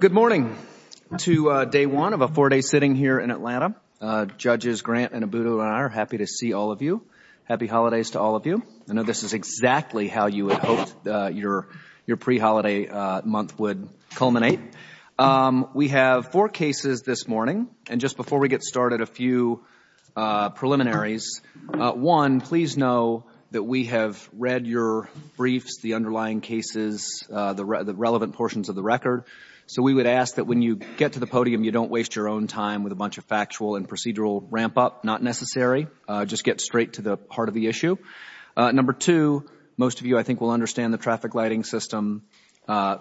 Good morning to day one of a four-day sitting here in Atlanta. Judges Grant and Abudula and I are happy to see all of you. Happy holidays to all of you. I know this is exactly how you had hoped your pre-holiday month would culminate. We have four cases this morning and just before we get started a few preliminaries. One, please know that we have read your briefs, the underlying cases, the relevant portions of the record. So we would ask that when you get to the podium you don't waste your own time with a bunch of factual and procedural ramp up, not necessary. Just get straight to the heart of the issue. Number two, most of you I think will understand the traffic lighting system.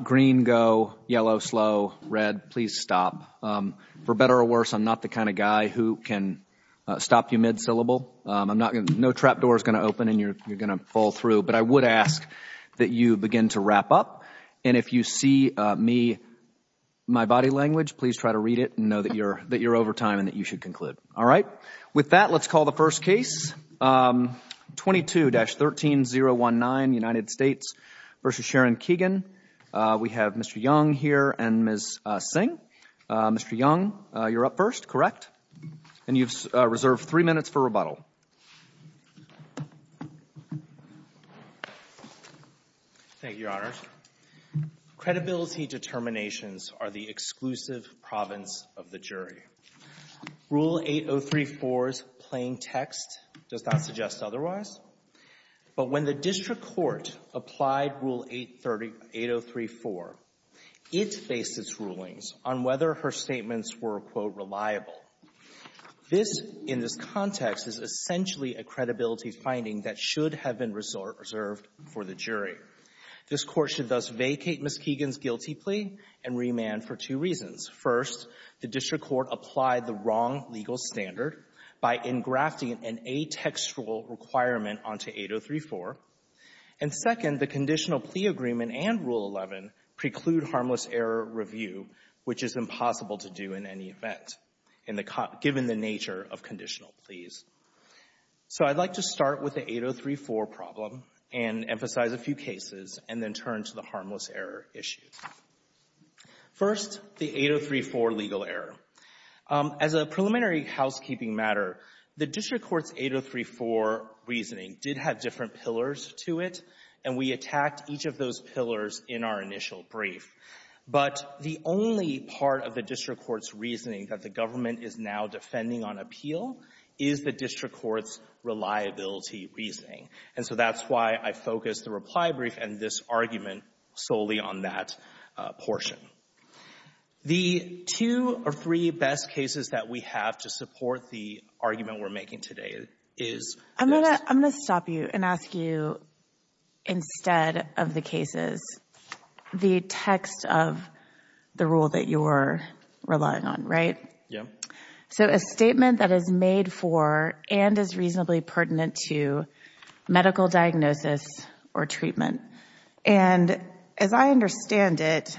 Green go, yellow slow, red please stop. For better or worse, I'm not the kind of guy who can stop you mid-syllable. No trap door is going to open and you're going to fall through. But I would ask that you begin to wrap up and if you see me, my body language, please try to read it and know that you're over time and that you should conclude. All right. With that, let's call the first thing. Mr. Young, you're up first, correct? And you've reserved three minutes for rebuttal. Thank you, Your Honors. Credibility determinations are the exclusive province of the jury. Rule 8034's plain text does not suggest otherwise. But when the district court applied Rule 8034, it faced its rulings on whether her statements were, quote, reliable. This, in this context, is essentially a credibility finding that should have been reserved for the jury. This Court should thus vacate Ms. Keegan's guilty plea and remand for two reasons. First, the district court applied the wrong legal standard by engrafting an atextual requirement onto 8034. And second, the conditional plea agreement and Rule 11 preclude harmless error review, which is impossible to do in any event, given the nature of conditional pleas. So I'd like to start with the 8034 problem and emphasize a few cases and then turn to the harmless error issue. First, the 8034 legal error. As a preliminary housekeeping matter, the district court's 8034 reasoning did have different pillars to it, and we attacked each of those pillars in our initial brief. But the only part of the district court's reasoning that the government is now defending on appeal is the district court's reliability reasoning. And so that's why I focused the reply brief and this argument solely on that portion. The two or three best cases that we have to support the argument we're making today is this. I'm going to stop you and ask you, instead of the cases, the text of the rule that you're relying on, right? Yeah. So a statement that is made for and is reasonably pertinent to medical diagnosis or treatment. And as I understand it,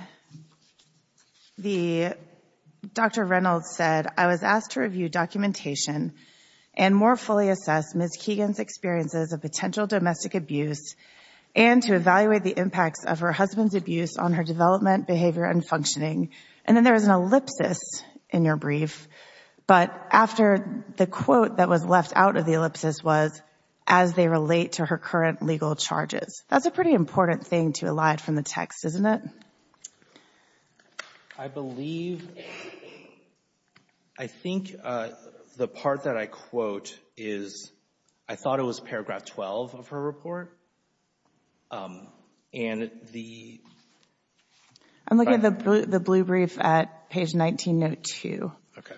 Dr. Reynolds said, I was asked to review documentation and more fully assess Ms. Keegan's experiences of potential domestic abuse and to evaluate the impacts of her husband's abuse on her development, behavior, and functioning. And then there is an ellipsis in your brief, but after the quote that was left out of the ellipsis was, as they relate to her current legal charges. That's a pretty important thing to elide from the text, isn't it? I believe, I think the part that I quote is, I thought it was paragraph 12 of her report. And the... I'm looking at the blue brief at page 19, note 2. Okay.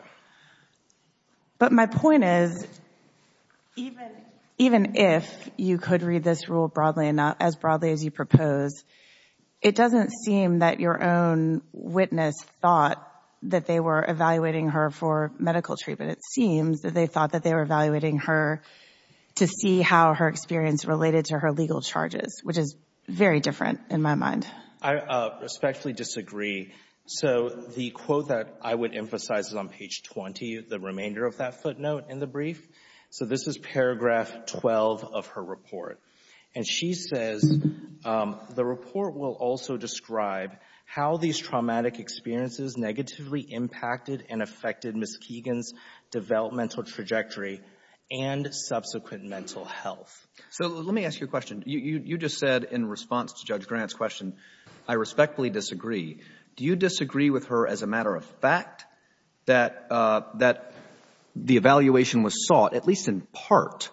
But my point is, even if you could read this rule broadly enough, as broadly as you propose, it doesn't seem that your own witness thought that they were evaluating her for medical treatment. It seems that they thought that they were evaluating her to see how her experience related to her legal charges, which is very different in my mind. I respectfully disagree. So the quote that I would emphasize is on page 20, the remainder of that footnote in the brief. So this is paragraph 12 of her report. And she says, the report will also describe how these traumatic experiences negatively impacted and affected Ms. Keegan's developmental trajectory and subsequent mental health. So let me ask you a question. You just said in response to Judge Grant's question, I respectfully disagree. Do you disagree with her as a matter of fact that the evaluation was sought at least in part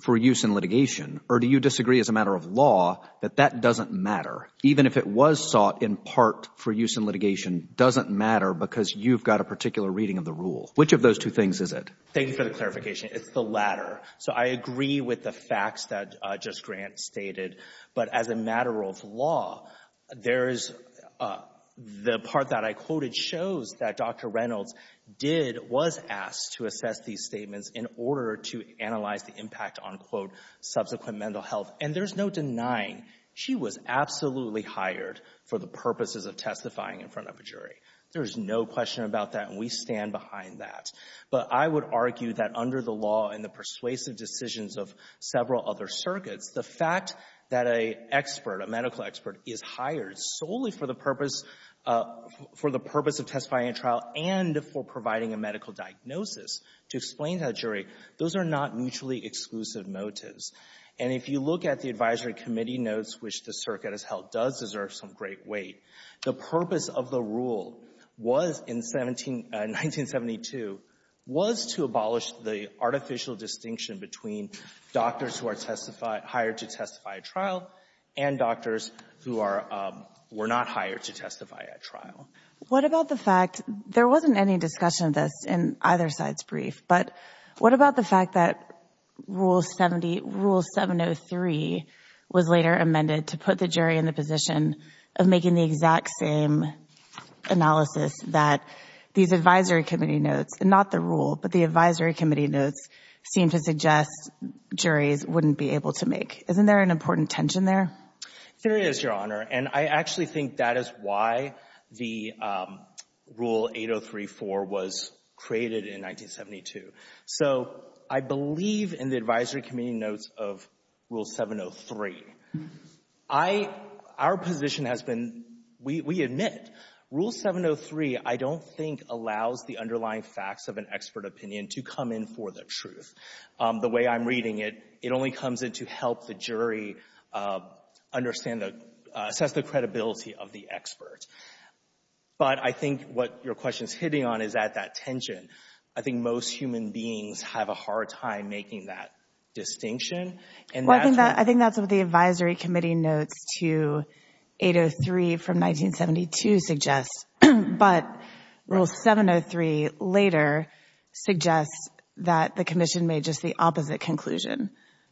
for use in litigation? Or do you disagree as a matter of law that that doesn't matter, even if it was sought in part for use in litigation, doesn't matter because you've got a particular reading of the rule? Which of those two things is it? Thank you for the clarification. It's the latter. So I agree with the facts that Judge Grant stated. But as a matter of law, the part that I quoted shows that Dr. Reynolds was asked to assess these statements in order to analyze the impact on, quote, subsequent mental health. And there's no denying, she was absolutely hired for the purposes of testifying in front of a jury. There is no question about that, and we stand behind that. But I would argue that under the law and the persuasive decisions of several other circuits, the fact that an expert, a medical expert, is hired solely for the purpose of testifying in trial and for providing a medical diagnosis to explain to a jury, those are not mutually exclusive motives. And if you look at the advisory committee notes, which the circuit has held does deserve some great weight, the purpose of the rule was in 1972, was to abolish the artificial distinction between doctors who are hired to testify at trial and doctors who were not hired to testify at trial. What about the fact, there wasn't any discussion of this in either side's brief, but what about the fact that Rule 703 was later amended to put the jury in the position of making the exact same analysis that these advisory committee notes, not the rule, but the advisory committee notes, seem to suggest juries wouldn't be able to make? Isn't there an important tension there? There is, Your Honor. And I actually think that is why the Rule 803-4 was created in 1972. So I believe in the advisory committee notes of Rule 703. Our position has been, we admit, Rule 703 I don't think allows the underlying facts of an expert opinion to come in for the truth. The way I'm reading it, it only comes in to help the jury understand the — assess the credibility of the expert. But I think what your question is hitting on is at that tension. I think most human beings have a hard time making that distinction. And that's — Well, I think that's what the advisory committee notes to 803 from 1972 suggests. But Rule 703 later suggests that the commission made just the opposite conclusion,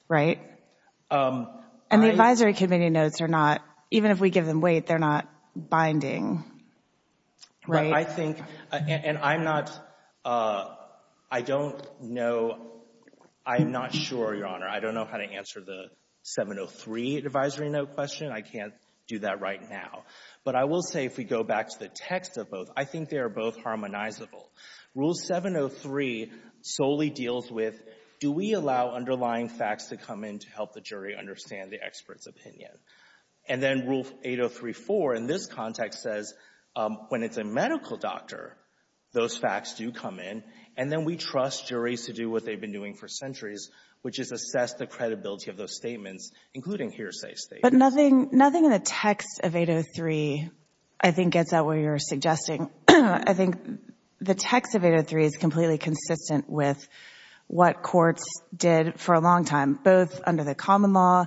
right? And the advisory committee notes are not — even if we give them weight, they're not binding, right? I think — and I'm not — I don't know — I'm not sure, Your Honor. I don't know how to answer the 703 advisory note question. I can't do that right now. But I will say, if we go back to the text of both, I think they are both harmonizable. Rule 703 solely deals with, do we allow underlying facts to come in to help the jury understand the expert's opinion? And then Rule 803-4 in this context says, when it's a medical doctor, those facts do come in. And then we trust juries to do what they've been doing for centuries, which is assess the credibility of those statements, including hearsay statements. But nothing — nothing in the text of 803, I think, gets at what you're suggesting. I think the text of 803 is completely consistent with what courts did for a long time, both under the common law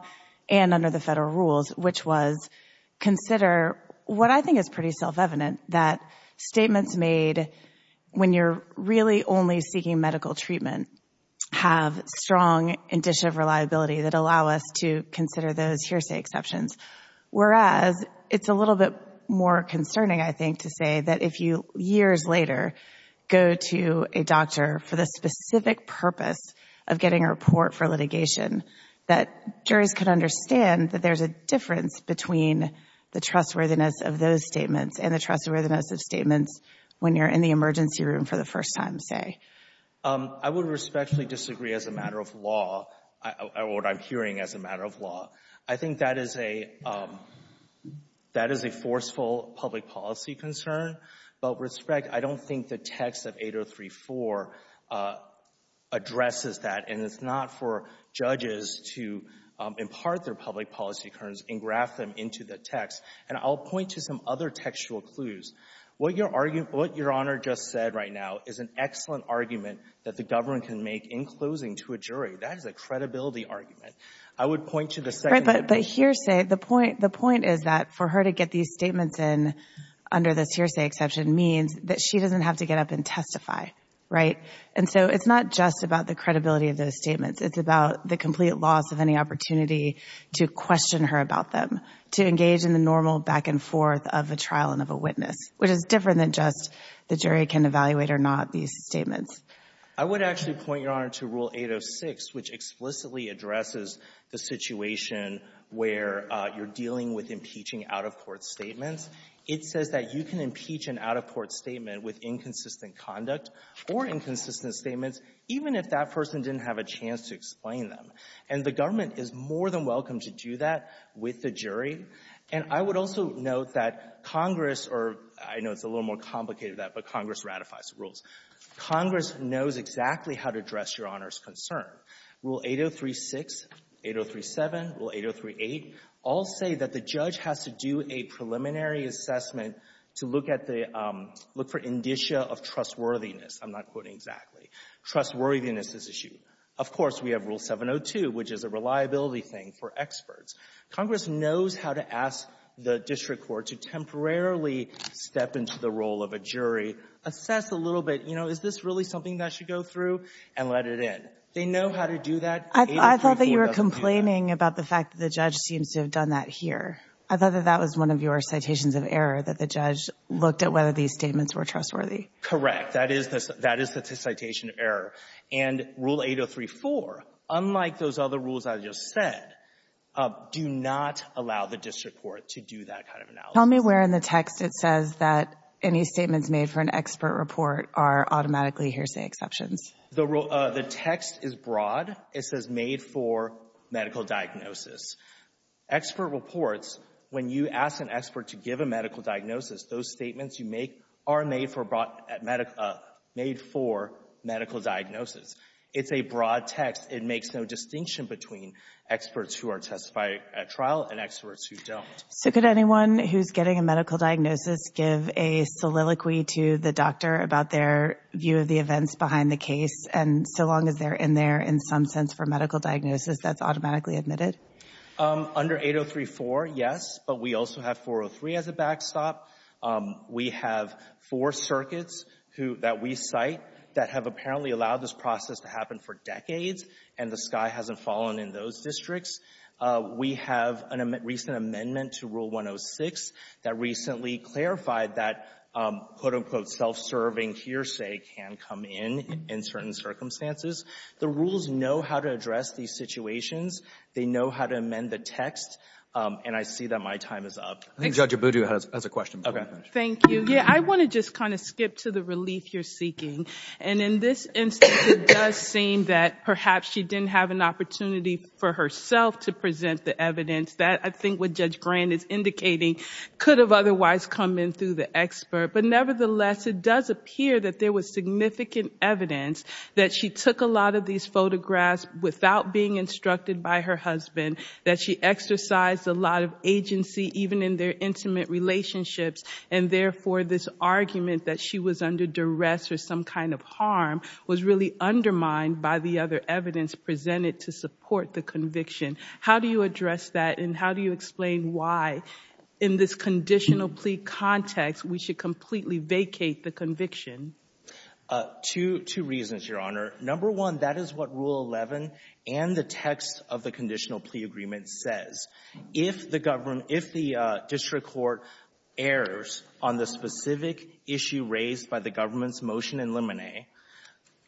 and under the federal rules, which was consider what I think is pretty self-evident, that statements made when you're really only seeking medical treatment have strong indicia of reliability that allow us to consider those hearsay exceptions, whereas it's a little bit more concerning, I think, to say that if you, years later, go to a doctor for the specific purpose of getting a report for litigation, that juries can understand that there's a difference between the trustworthiness of those statements and the trustworthiness of statements when you're in the emergency room for the first time, say. I would respectfully disagree as a matter of law, or what I'm hearing as a matter of I think that is a — that is a forceful public policy concern. But with respect, I don't think the text of 803.4 addresses that, and it's not for judges to impart their public policy concerns and graft them into the text. And I'll point to some other textual clues. What your argument — what Your Honor just said right now is an excellent argument that the government can make in closing to a jury. That is a credibility argument. I would point to the second — Right, but the hearsay — the point — the point is that for her to get these statements in under this hearsay exception means that she doesn't have to get up and testify, right? And so it's not just about the credibility of those statements. It's about the complete loss of any opportunity to question her about them, to engage in the normal back-and-forth of a trial and of a witness, which is different than just the jury can evaluate or not these statements. I would actually point, Your Honor, to Rule 806, which explicitly addresses the situation where you're dealing with impeaching out-of-court statements. It says that you can impeach an out-of-court statement with inconsistent conduct or inconsistent statements even if that person didn't have a chance to explain them. And the government is more than welcome to do that with the jury. And I would also note that Congress — or I know it's a little more complicated than that, but Congress ratifies rules. Congress knows exactly how to address Your Honor's concern. Rule 803-6, 803-7, Rule 803-8 all say that the judge has to do a preliminary assessment to look at the — look for indicia of trustworthiness. I'm not quoting exactly. Trustworthiness is issued. Of course, we have Rule 702, which is a reliability thing for experts. Congress knows how to ask the district court to temporarily step into the role of a jury, assess a little bit, you know, is this really something that should go through, and let it in. They know how to do that. 803-4 doesn't do that. I thought that you were complaining about the fact that the judge seems to have done that here. I thought that that was one of your citations of error, that the judge looked at whether these statements were trustworthy. Correct. That is the citation of error. And Rule 803-4, unlike those other rules I just said, do not allow the district court to do that kind of analysis. Tell me where in the text it says that any statements made for an expert report are automatically hearsay exceptions. The text is broad. It says made for medical diagnosis. Expert reports, when you ask an expert to give a medical diagnosis, those statements you make are made for medical diagnosis. It's a broad text. It makes no distinction between experts who are testifying at trial and experts who don't. So could anyone who's getting a medical diagnosis give a soliloquy to the doctor about their view of the events behind the case, and so long as they're in there in some sense for medical diagnosis, that's automatically admitted? Under 803-4, yes, but we also have 403 as a backstop. We have four circuits that we cite that have apparently allowed this process to happen for decades, and the sky hasn't fallen in those districts. We have a recent amendment to Rule 106 that recently clarified that, quote, unquote, self-serving hearsay can come in in certain circumstances. The rules know how to address these situations. They know how to amend the text, and I see that my time is up. I think Judge Abudu has a question before I finish. Thank you. Yeah, I want to just kind of skip to the relief you're seeking, and in this instance, it does seem that perhaps she didn't have an opportunity for herself to present the evidence that I think what Judge Grand is indicating could have otherwise come in through the expert, but nevertheless, it does appear that there was significant evidence that she took a lot of these photographs without being instructed by her husband, that she exercised a lot of agency even in their intimate relationships, and therefore, this argument that she was under duress or some kind of harm was really undermined by the other evidence presented to support the conviction. How do you address that, and how do you explain why in this conditional plea context we should completely vacate the conviction? Two reasons, Your Honor. Number one, that is what Rule 11 and the text of the conditional plea agreement says. If the government — if the district court errs on the specific issue raised by the government's motion in Lemonet,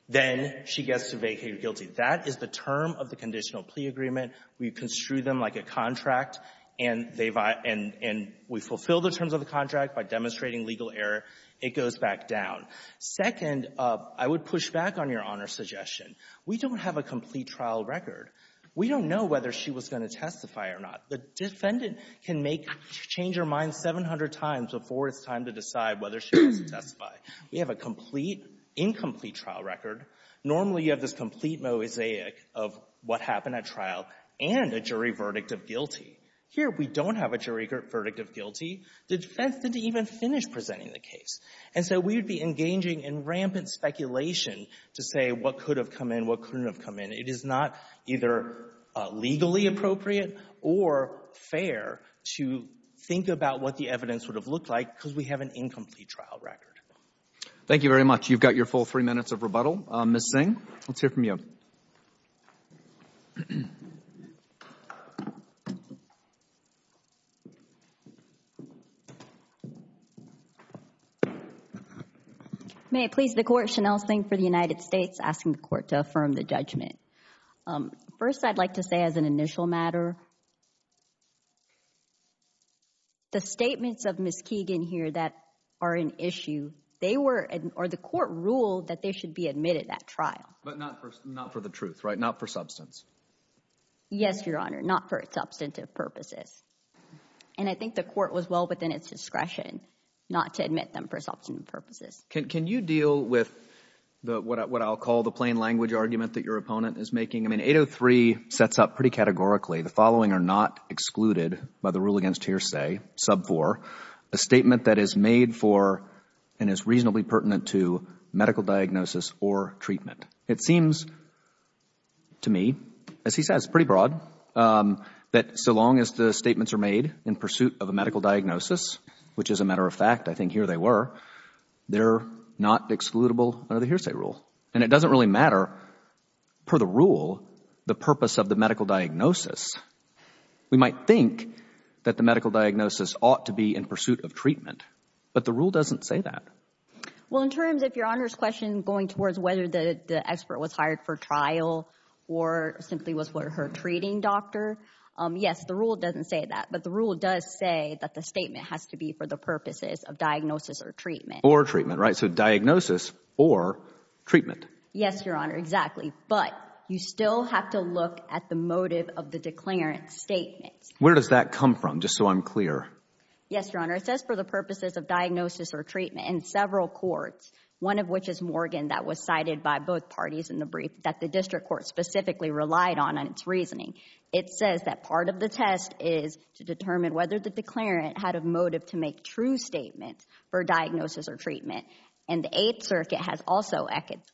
then she gets to vacate her guilty. That is the term of the conditional plea agreement. We construe them like a contract, and they — and we fulfill the terms of the contract by demonstrating legal error. It goes back down. Second, I would push back on Your Honor's suggestion. We don't have a complete trial record. We don't know whether she was going to testify or not. The defendant can make — change her mind 700 times before it's time to decide whether she wants to testify. We have a complete, incomplete trial record. Normally, you have this complete mosaic of what happened at trial and a jury verdict of guilty. Here, we don't have a jury verdict of guilty. The defense didn't even finish presenting the case, and so we would be engaging in rampant speculation to say what could have come in, what couldn't have come in. It is not either legally appropriate or fair to think about what the evidence would have looked like because we have an incomplete trial record. Thank you very much. You've got your full three minutes of rebuttal. Ms. Singh, let's hear from you. May it please the Court, Shanelle Singh for the United States asking the Court to affirm the judgment. First, I'd like to say as an initial matter, the statements of Ms. Keegan here that are an issue, they were — or the Court ruled that they should be admitted at trial. But not for the truth, right? Not for substance. Yes, Your Honor. Not for substantive purposes. And I think the Court was well within its discretion not to admit them for substantive purposes. Can you deal with what I'll call the plain language argument that your opponent is making? I mean, 803 sets up pretty categorically the following. Excluded by the rule against hearsay, sub 4, a statement that is made for and is reasonably pertinent to medical diagnosis or treatment. It seems to me, as he says, pretty broad, that so long as the statements are made in pursuit of a medical diagnosis, which as a matter of fact, I think here they were, they're not excludable under the hearsay rule. And it doesn't really matter, per the rule, the purpose of the medical diagnosis. We might think that the medical diagnosis ought to be in pursuit of treatment, but the rule doesn't say that. Well, in terms, if Your Honor's question going towards whether the expert was hired for trial or simply was for her treating doctor, yes, the rule doesn't say that. But the rule does say that the statement has to be for the purposes of diagnosis or treatment. Or treatment, right? Diagnosis or treatment. Yes, Your Honor. Exactly. But you still have to look at the motive of the declarant's statement. Where does that come from? Just so I'm clear. Yes, Your Honor. It says for the purposes of diagnosis or treatment in several courts, one of which is Morgan that was cited by both parties in the brief that the district court specifically relied on its reasoning. It says that part of the test is to determine whether the declarant had a motive to make true statements for diagnosis or treatment. And the Eighth Circuit has also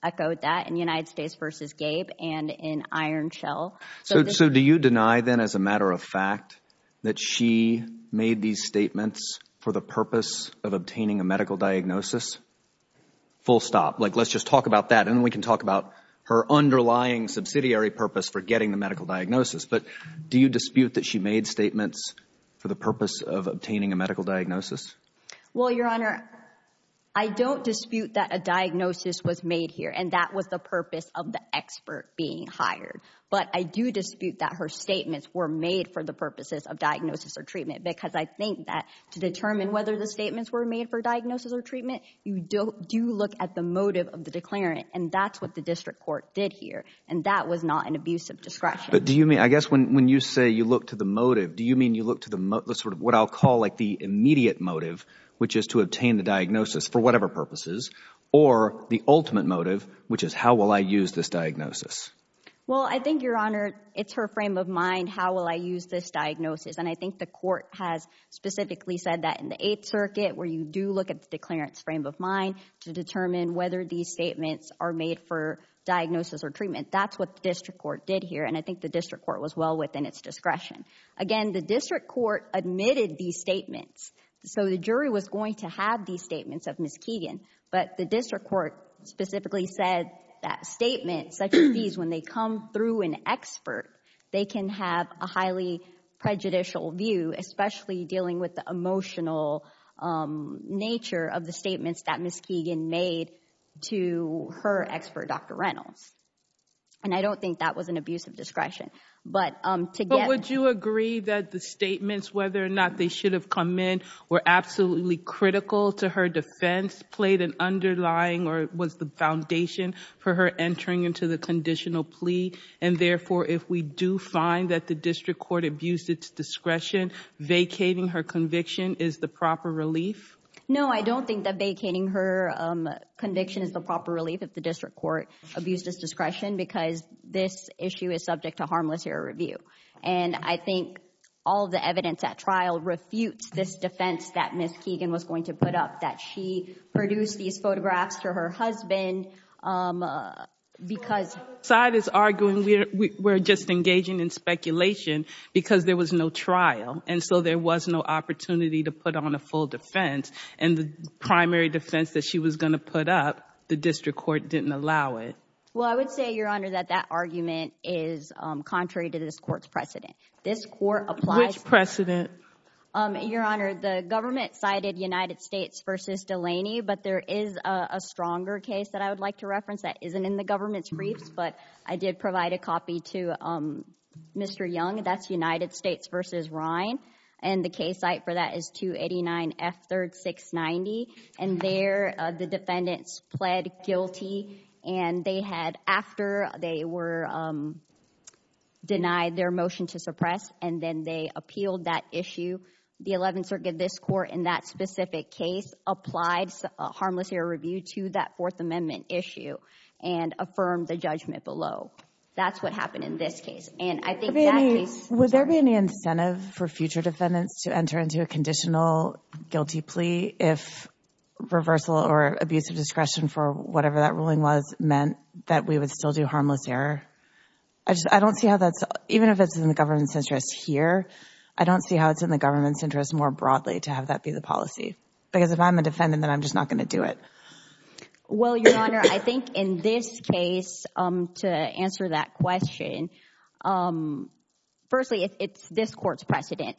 echoed that in United States v. Gabe and in Iron Shell. So do you deny then as a matter of fact that she made these statements for the purpose of obtaining a medical diagnosis? Full stop. Like, let's just talk about that and then we can talk about her underlying subsidiary purpose for getting the medical diagnosis. But do you dispute that she made statements for the purpose of obtaining a medical diagnosis? Well, Your Honor, I don't dispute that a diagnosis was made here and that was the purpose of the expert being hired. But I do dispute that her statements were made for the purposes of diagnosis or treatment because I think that to determine whether the statements were made for diagnosis or treatment, you do look at the motive of the declarant. And that's what the district court did here. And that was not an abuse of discretion. But do you mean, I guess when you say you look to the motive, do you mean you look to what I'll call the immediate motive, which is to obtain the diagnosis for whatever purposes, or the ultimate motive, which is how will I use this diagnosis? Well, I think, Your Honor, it's her frame of mind. How will I use this diagnosis? And I think the court has specifically said that in the Eighth Circuit where you do look at the declarant's frame of mind to determine whether these statements are made for diagnosis or treatment. That's what the district court did here. And I think the district court was well within its discretion. Again, the district court admitted these statements. So the jury was going to have these statements of Ms. Keegan. But the district court specifically said that statements such as these, when they come through an expert, they can have a highly prejudicial view, especially dealing with the emotional nature of the statements that Ms. Keegan made to her expert, Dr. Reynolds. And I don't think that was an abuse of discretion. But to get... But would you agree that the statements, whether or not they should have come in, were absolutely critical to her defense, played an underlying or was the foundation for her entering into the conditional plea? And therefore, if we do find that the district court abused its discretion, vacating her conviction is the proper relief? No, I don't think that vacating her conviction is the proper relief if the district court abused its discretion, because this issue is subject to harmless error review. And I think all the evidence at trial refutes this defense that Ms. Keegan was going to put up, that she produced these photographs for her husband because... Well, on the other side is arguing we're just engaging in speculation because there was no trial. And so there was no opportunity to put on a full defense. And the primary defense that she was going to put up, the district court didn't allow it. Well, I would say, Your Honor, that that argument is contrary to this court's precedent. This court applies... Which precedent? Your Honor, the government cited United States v. Delaney. But there is a stronger case that I would like to reference that isn't in the government's briefs. But I did provide a copy to Mr. Young. That's United States v. Ryan. And the case site for that is 289 F. 3rd 690. And there, the defendants pled guilty. And they had, after they were denied their motion to suppress, and then they appealed that issue, the 11th Circuit, this court, in that specific case, applied harmless error review to that Fourth Amendment issue and affirmed the judgment below. That's what happened in this case. And I think that case... Would there be any incentive for future defendants to enter into a conditional guilty plea if reversal or abuse of discretion for whatever that ruling was meant that we would still do harmless error? I don't see how that's... Even if it's in the government's interest here, I don't see how it's in the government's interest more broadly to have that be the policy. Because if I'm a defendant, then I'm just not going to do it. Well, Your Honor, I think in this case, to answer that question, firstly, it's this court's precedent.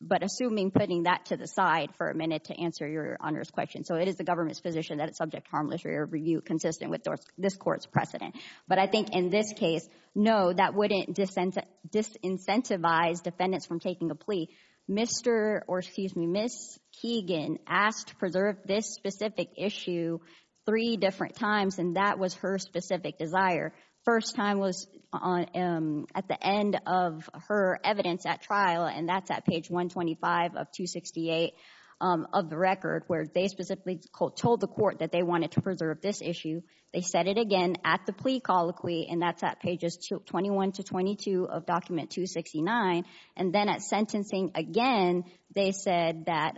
But assuming putting that to the side for a minute to answer Your Honor's question. So it is the government's position that it's subject to harmless error review consistent with this court's precedent. But I think in this case, no, that wouldn't disincentivize defendants from taking a plea. Mr. or excuse me, Ms. Keegan asked to preserve this specific issue three different times. And that was her specific desire. First time was at the end of her evidence at trial. And that's at page 125 of 268 of the record, where they specifically told the court that they wanted to preserve this issue. They said it again at the plea colloquy. And that's at pages 21 to 22 of document 269. And then at sentencing again, they said that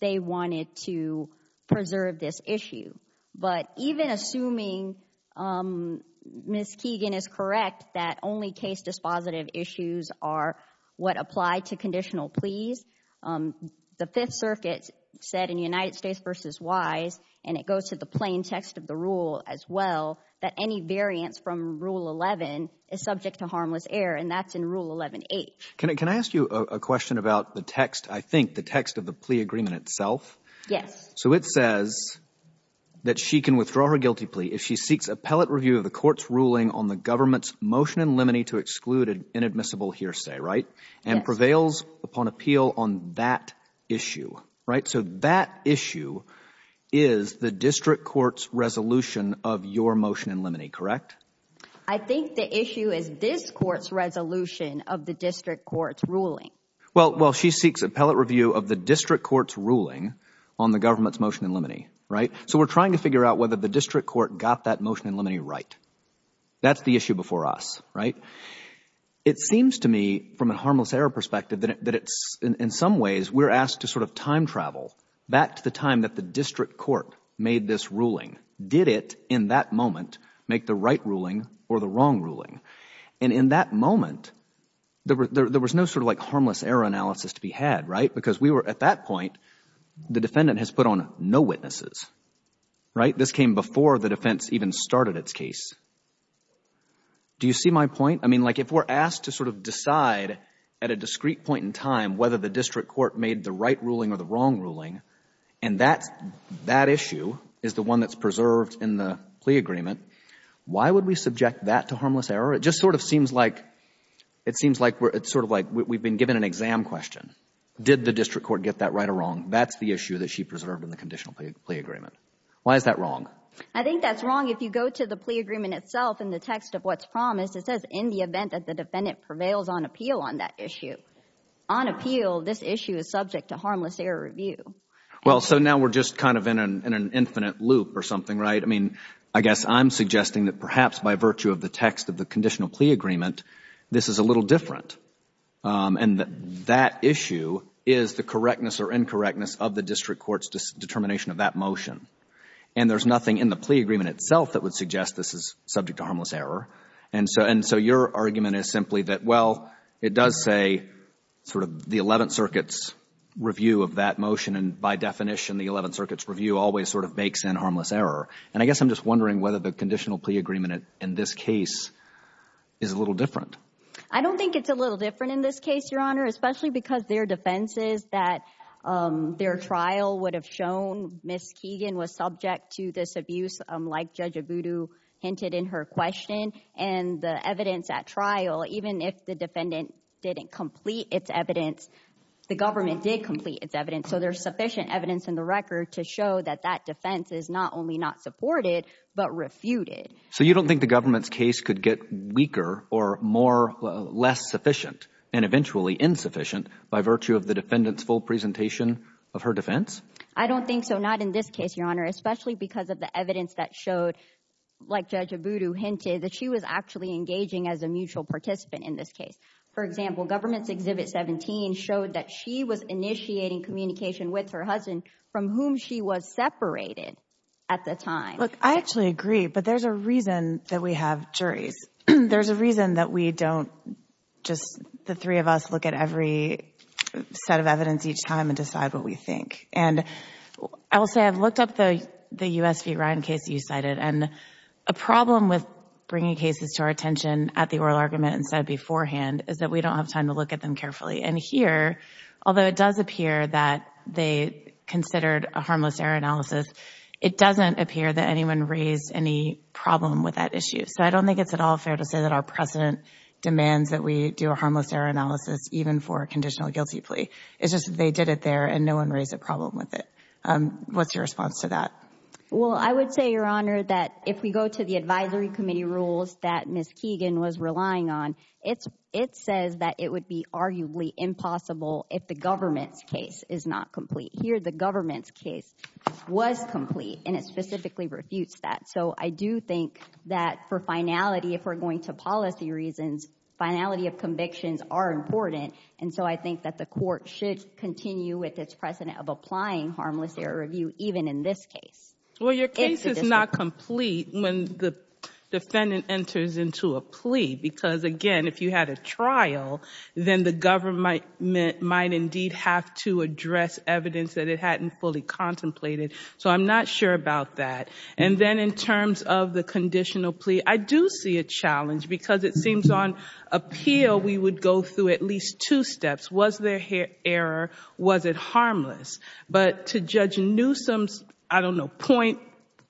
they wanted to preserve this issue. But even assuming Ms. Keegan is correct, that only case dispositive issues are what apply to conditional pleas. The Fifth Circuit said in United States v. Wise, and it goes to the plain text of the rule as well, that any variance from Rule 11 is subject to harmless error. And that's in Rule 11H. Can I ask you a question about the text? I think the text of the plea agreement itself. Yes. So it says that she can withdraw her guilty plea if she seeks appellate review of the court's ruling on the government's motion in limine to exclude inadmissible hearsay, right? And prevails upon appeal on that issue, right? So that issue is the district court's resolution of your motion in limine, correct? I think the issue is this court's resolution of the district court's ruling. Well, she seeks appellate review of the district court's ruling on the government's motion in limine, right? So we're trying to figure out whether the district court got that motion in limine right. That's the issue before us, right? It seems to me from a harmless error perspective that it's, in some ways, we're asked to sort of time travel back to the time that the district court made this ruling. Did it, in that moment, make the right ruling or the wrong ruling? And in that moment, there was no sort of like harmless error analysis to be had, right? At that point, the defendant has put on no witnesses, right? This came before the defense even started its case. Do you see my point? I mean, like if we're asked to sort of decide at a discrete point in time whether the district court made the right ruling or the wrong ruling, and that issue is the one that's preserved in the plea agreement, why would we subject that to harmless error? It just sort of seems like we've been given an exam question. Did the district court get that right or wrong? That's the issue that she preserved in the conditional plea agreement. Why is that wrong? I think that's wrong. If you go to the plea agreement itself in the text of what's promised, it says in the event that the defendant prevails on appeal on that issue. On appeal, this issue is subject to harmless error review. Well, so now we're just kind of in an infinite loop or something, right? I mean, I guess I'm suggesting that perhaps by virtue of the text of the conditional plea agreement, this is a little different. And that issue is the correctness or incorrectness of the district court's determination of that motion. And there's nothing in the plea agreement itself that would suggest this is subject to harmless error. And so your argument is simply that, well, it does say sort of the Eleventh Circuit's review of that motion. And by definition, the Eleventh Circuit's review always sort of makes in harmless error. And I guess I'm just wondering whether the conditional plea agreement in this case is a little different. I don't think it's a little different in this case, Your Honor, especially because their defenses that their trial would have shown Ms. Keegan was subject to this abuse, like Judge Abudu hinted in her question. And the evidence at trial, even if the defendant didn't complete its evidence, the government did complete its evidence. So there's sufficient evidence in the record to show that that defense is not only not supported, but refuted. So you don't think the government's case could get weaker or more, less sufficient and eventually insufficient by virtue of the defendant's full presentation of her defense? I don't think so. Not in this case, Your Honor, especially because of the evidence that showed, like Judge Abudu hinted, that she was actually engaging as a mutual participant in this case. For example, government's Exhibit 17 showed that she was initiating communication with her husband from whom she was separated at the time. I actually agree, but there's a reason that we have juries. There's a reason that we don't just, the three of us, look at every set of evidence each time and decide what we think. And I will say I've looked up the U.S. v. Ryan case you cited, and a problem with bringing cases to our attention at the oral argument and said beforehand is that we don't have time to look at them carefully. And here, although it does appear that they considered a harmless error analysis, it doesn't appear that anyone raised any problem with that issue. So I don't think it's at all fair to say that our precedent demands that we do a harmless error analysis even for a conditional guilty plea. It's just they did it there and no one raised a problem with it. What's your response to that? Well, I would say, Your Honor, that if we go to the advisory committee rules that Ms. Keegan was relying on, it says that it would be arguably impossible if the government's case is not complete. Here, the government's case was complete and it specifically refutes that. So I do think that for finality, if we're going to policy reasons, finality of convictions are important. And so I think that the court should continue with its precedent of applying harmless error review even in this case. Well, your case is not complete when the defendant enters into a plea because, again, if you had a trial, then the government might indeed have to address evidence that it hadn't fully contemplated. So I'm not sure about that. And then in terms of the conditional plea, I do see a challenge because it seems on appeal, we would go through at least two steps. Was there error? Was it harmless? But to Judge Newsome's, I don't know, point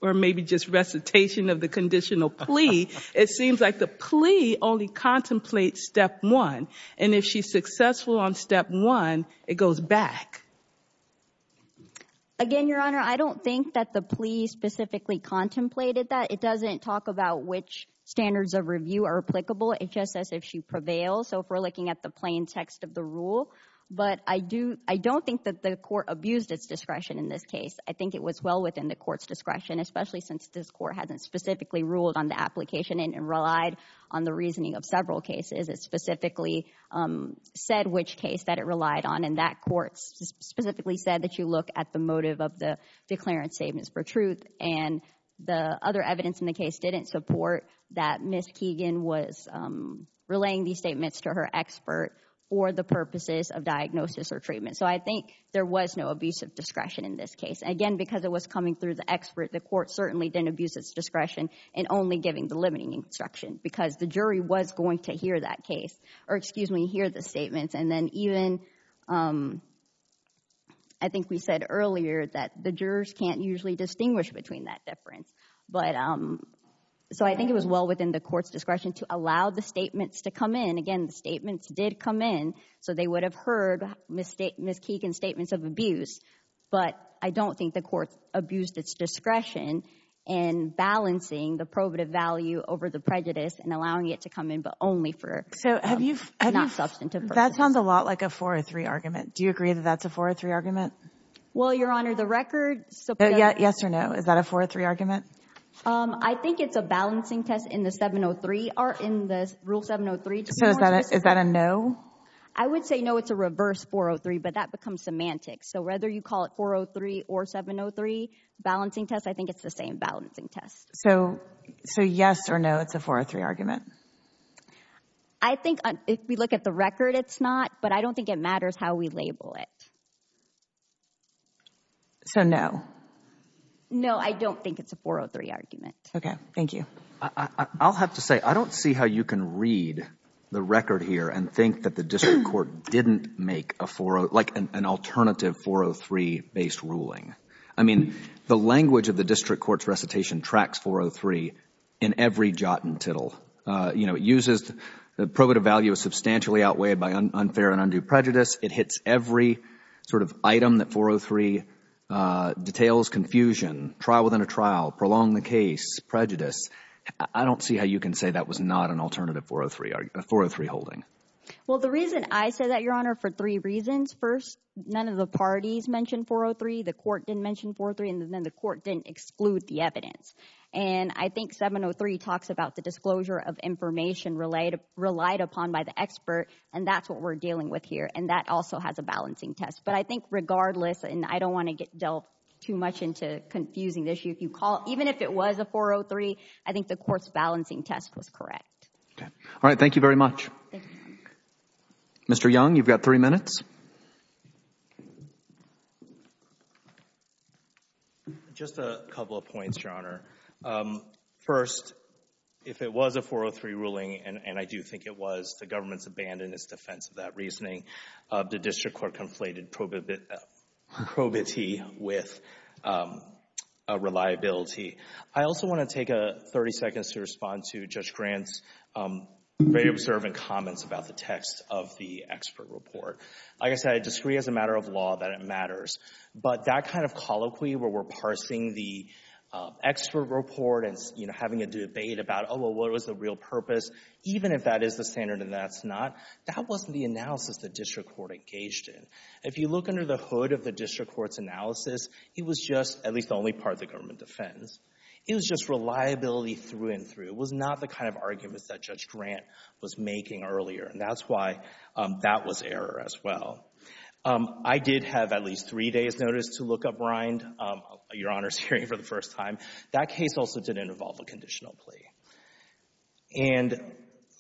or maybe just recitation of the conditional plea, it seems like the plea only contemplates step one. And if she's successful on step one, it goes back. Again, Your Honor, I don't think that the plea specifically contemplated that. It doesn't talk about which standards of review are applicable. It just says if she prevails. So if we're looking at the plain text of the rule. But I don't think that the court abused its discretion in this case. I think it was well within the court's discretion, especially since this court hasn't specifically ruled on the application and relied on the reasoning of several cases. It specifically said which case that it relied on. And that court specifically said that you look at the motive of the declarant's statements for truth. And the other evidence in the case didn't support that Ms. Keegan was relaying these statements to her expert for the purposes of diagnosis or treatment. So I think there was no abusive discretion in this case. Again, because it was coming through the expert, the court certainly didn't abuse its discretion in only giving the limiting instruction. Because the jury was going to hear that case. Or excuse me, hear the statements. And then even, I think we said earlier that the jurors can't usually distinguish between that difference. But so I think it was well within the court's discretion to allow the statements to come in. Again, the statements did come in. So they would have heard Ms. Keegan's statements of abuse. But I don't think the court abused its discretion in balancing the probative value over the prejudice and allowing it to come in, but only for not substantive purposes. That sounds a lot like a 403 argument. Do you agree that that's a 403 argument? Well, Your Honor, the record supports that. Yes or no, is that a 403 argument? I think it's a balancing test in the 703, or in the Rule 703. So is that a no? I would say no, it's a reverse 403. But that becomes semantics. So whether you call it 403 or 703 balancing test, I think it's the same balancing test. So yes or no, it's a 403 argument? I think if we look at the record, it's not. But I don't think it matters how we label it. So no? No, I don't think it's a 403 argument. Okay, thank you. I'll have to say, I don't see how you can read the record here and think that the district court didn't make a 403, like an alternative 403-based ruling. I mean, the language of the district court's recitation tracks 403 in every jot and tittle. You know, it uses the probative value of substantially outweighed by unfair and undue prejudice. It hits every sort of item that 403 details confusion, trial within a trial, prolong the case, prejudice. I don't see how you can say that was not an alternative 403 holding. Well, the reason I say that, Your Honor, for three reasons. First, none of the parties mentioned 403. The court didn't mention 403. And then the court didn't exclude the evidence. And I think 703 talks about the disclosure of information relied upon by the expert. And that's what we're dealing with here. And that also has a balancing test. But I think regardless, and I don't want to get dealt too much into confusing the issue, if you call, even if it was a 403, I think the court's balancing test was correct. All right, thank you very much. Mr. Young, you've got three minutes. Just a couple of points, Your Honor. First, if it was a 403 ruling, and I do think it was, the government's abandoned its defense of that reasoning. The district court conflated probity with reliability. I also want to take 30 seconds to respond to Judge Grant's very observant comments about the text of the expert report. Like I said, I disagree as a matter of law that it matters. But that kind of colloquy where we're parsing the expert report and having a debate about, oh, well, what was the real purpose, even if that is the standard and that's not, that wasn't the analysis the district court engaged in. If you look under the hood of the district court's analysis, it was just at least the only part of the government defense. It was just reliability through and through. It was not the kind of arguments that Judge Grant was making earlier. And that's why that was error as well. I did have at least three days' notice to look uprind, Your Honor's hearing for the first time. That case also didn't involve a conditional plea. And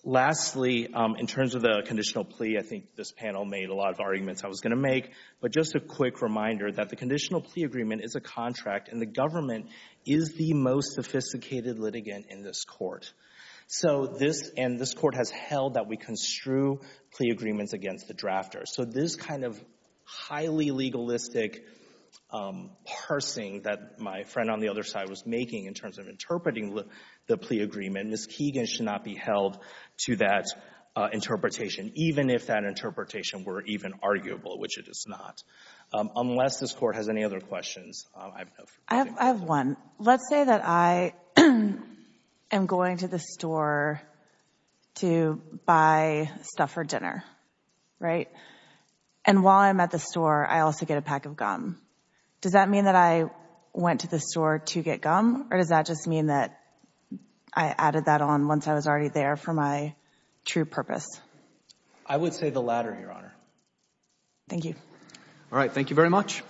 lastly, in terms of the conditional plea, I think this panel made a lot of arguments I was going to make. But just a quick reminder that the conditional plea agreement is a contract, and the government is the most sophisticated litigant in this court. So this, and this court has held that we construe plea agreements against the drafters. So this kind of highly legalistic parsing that my friend on the other side was making in terms of interpreting the plea agreement, Ms. Keegan should not be held to that interpretation, even if that interpretation were even arguable, which it is not. Unless this court has any other questions, I have one. Let's say that I am going to the store to buy stuff for dinner, right? And while I'm at the store, I also get a pack of gum. Does that mean that I went to the store to get gum? Or does that just mean that I added that on once I was already there for my true purpose? I would say the latter, Your Honor. Thank you. All right. Thank you very much.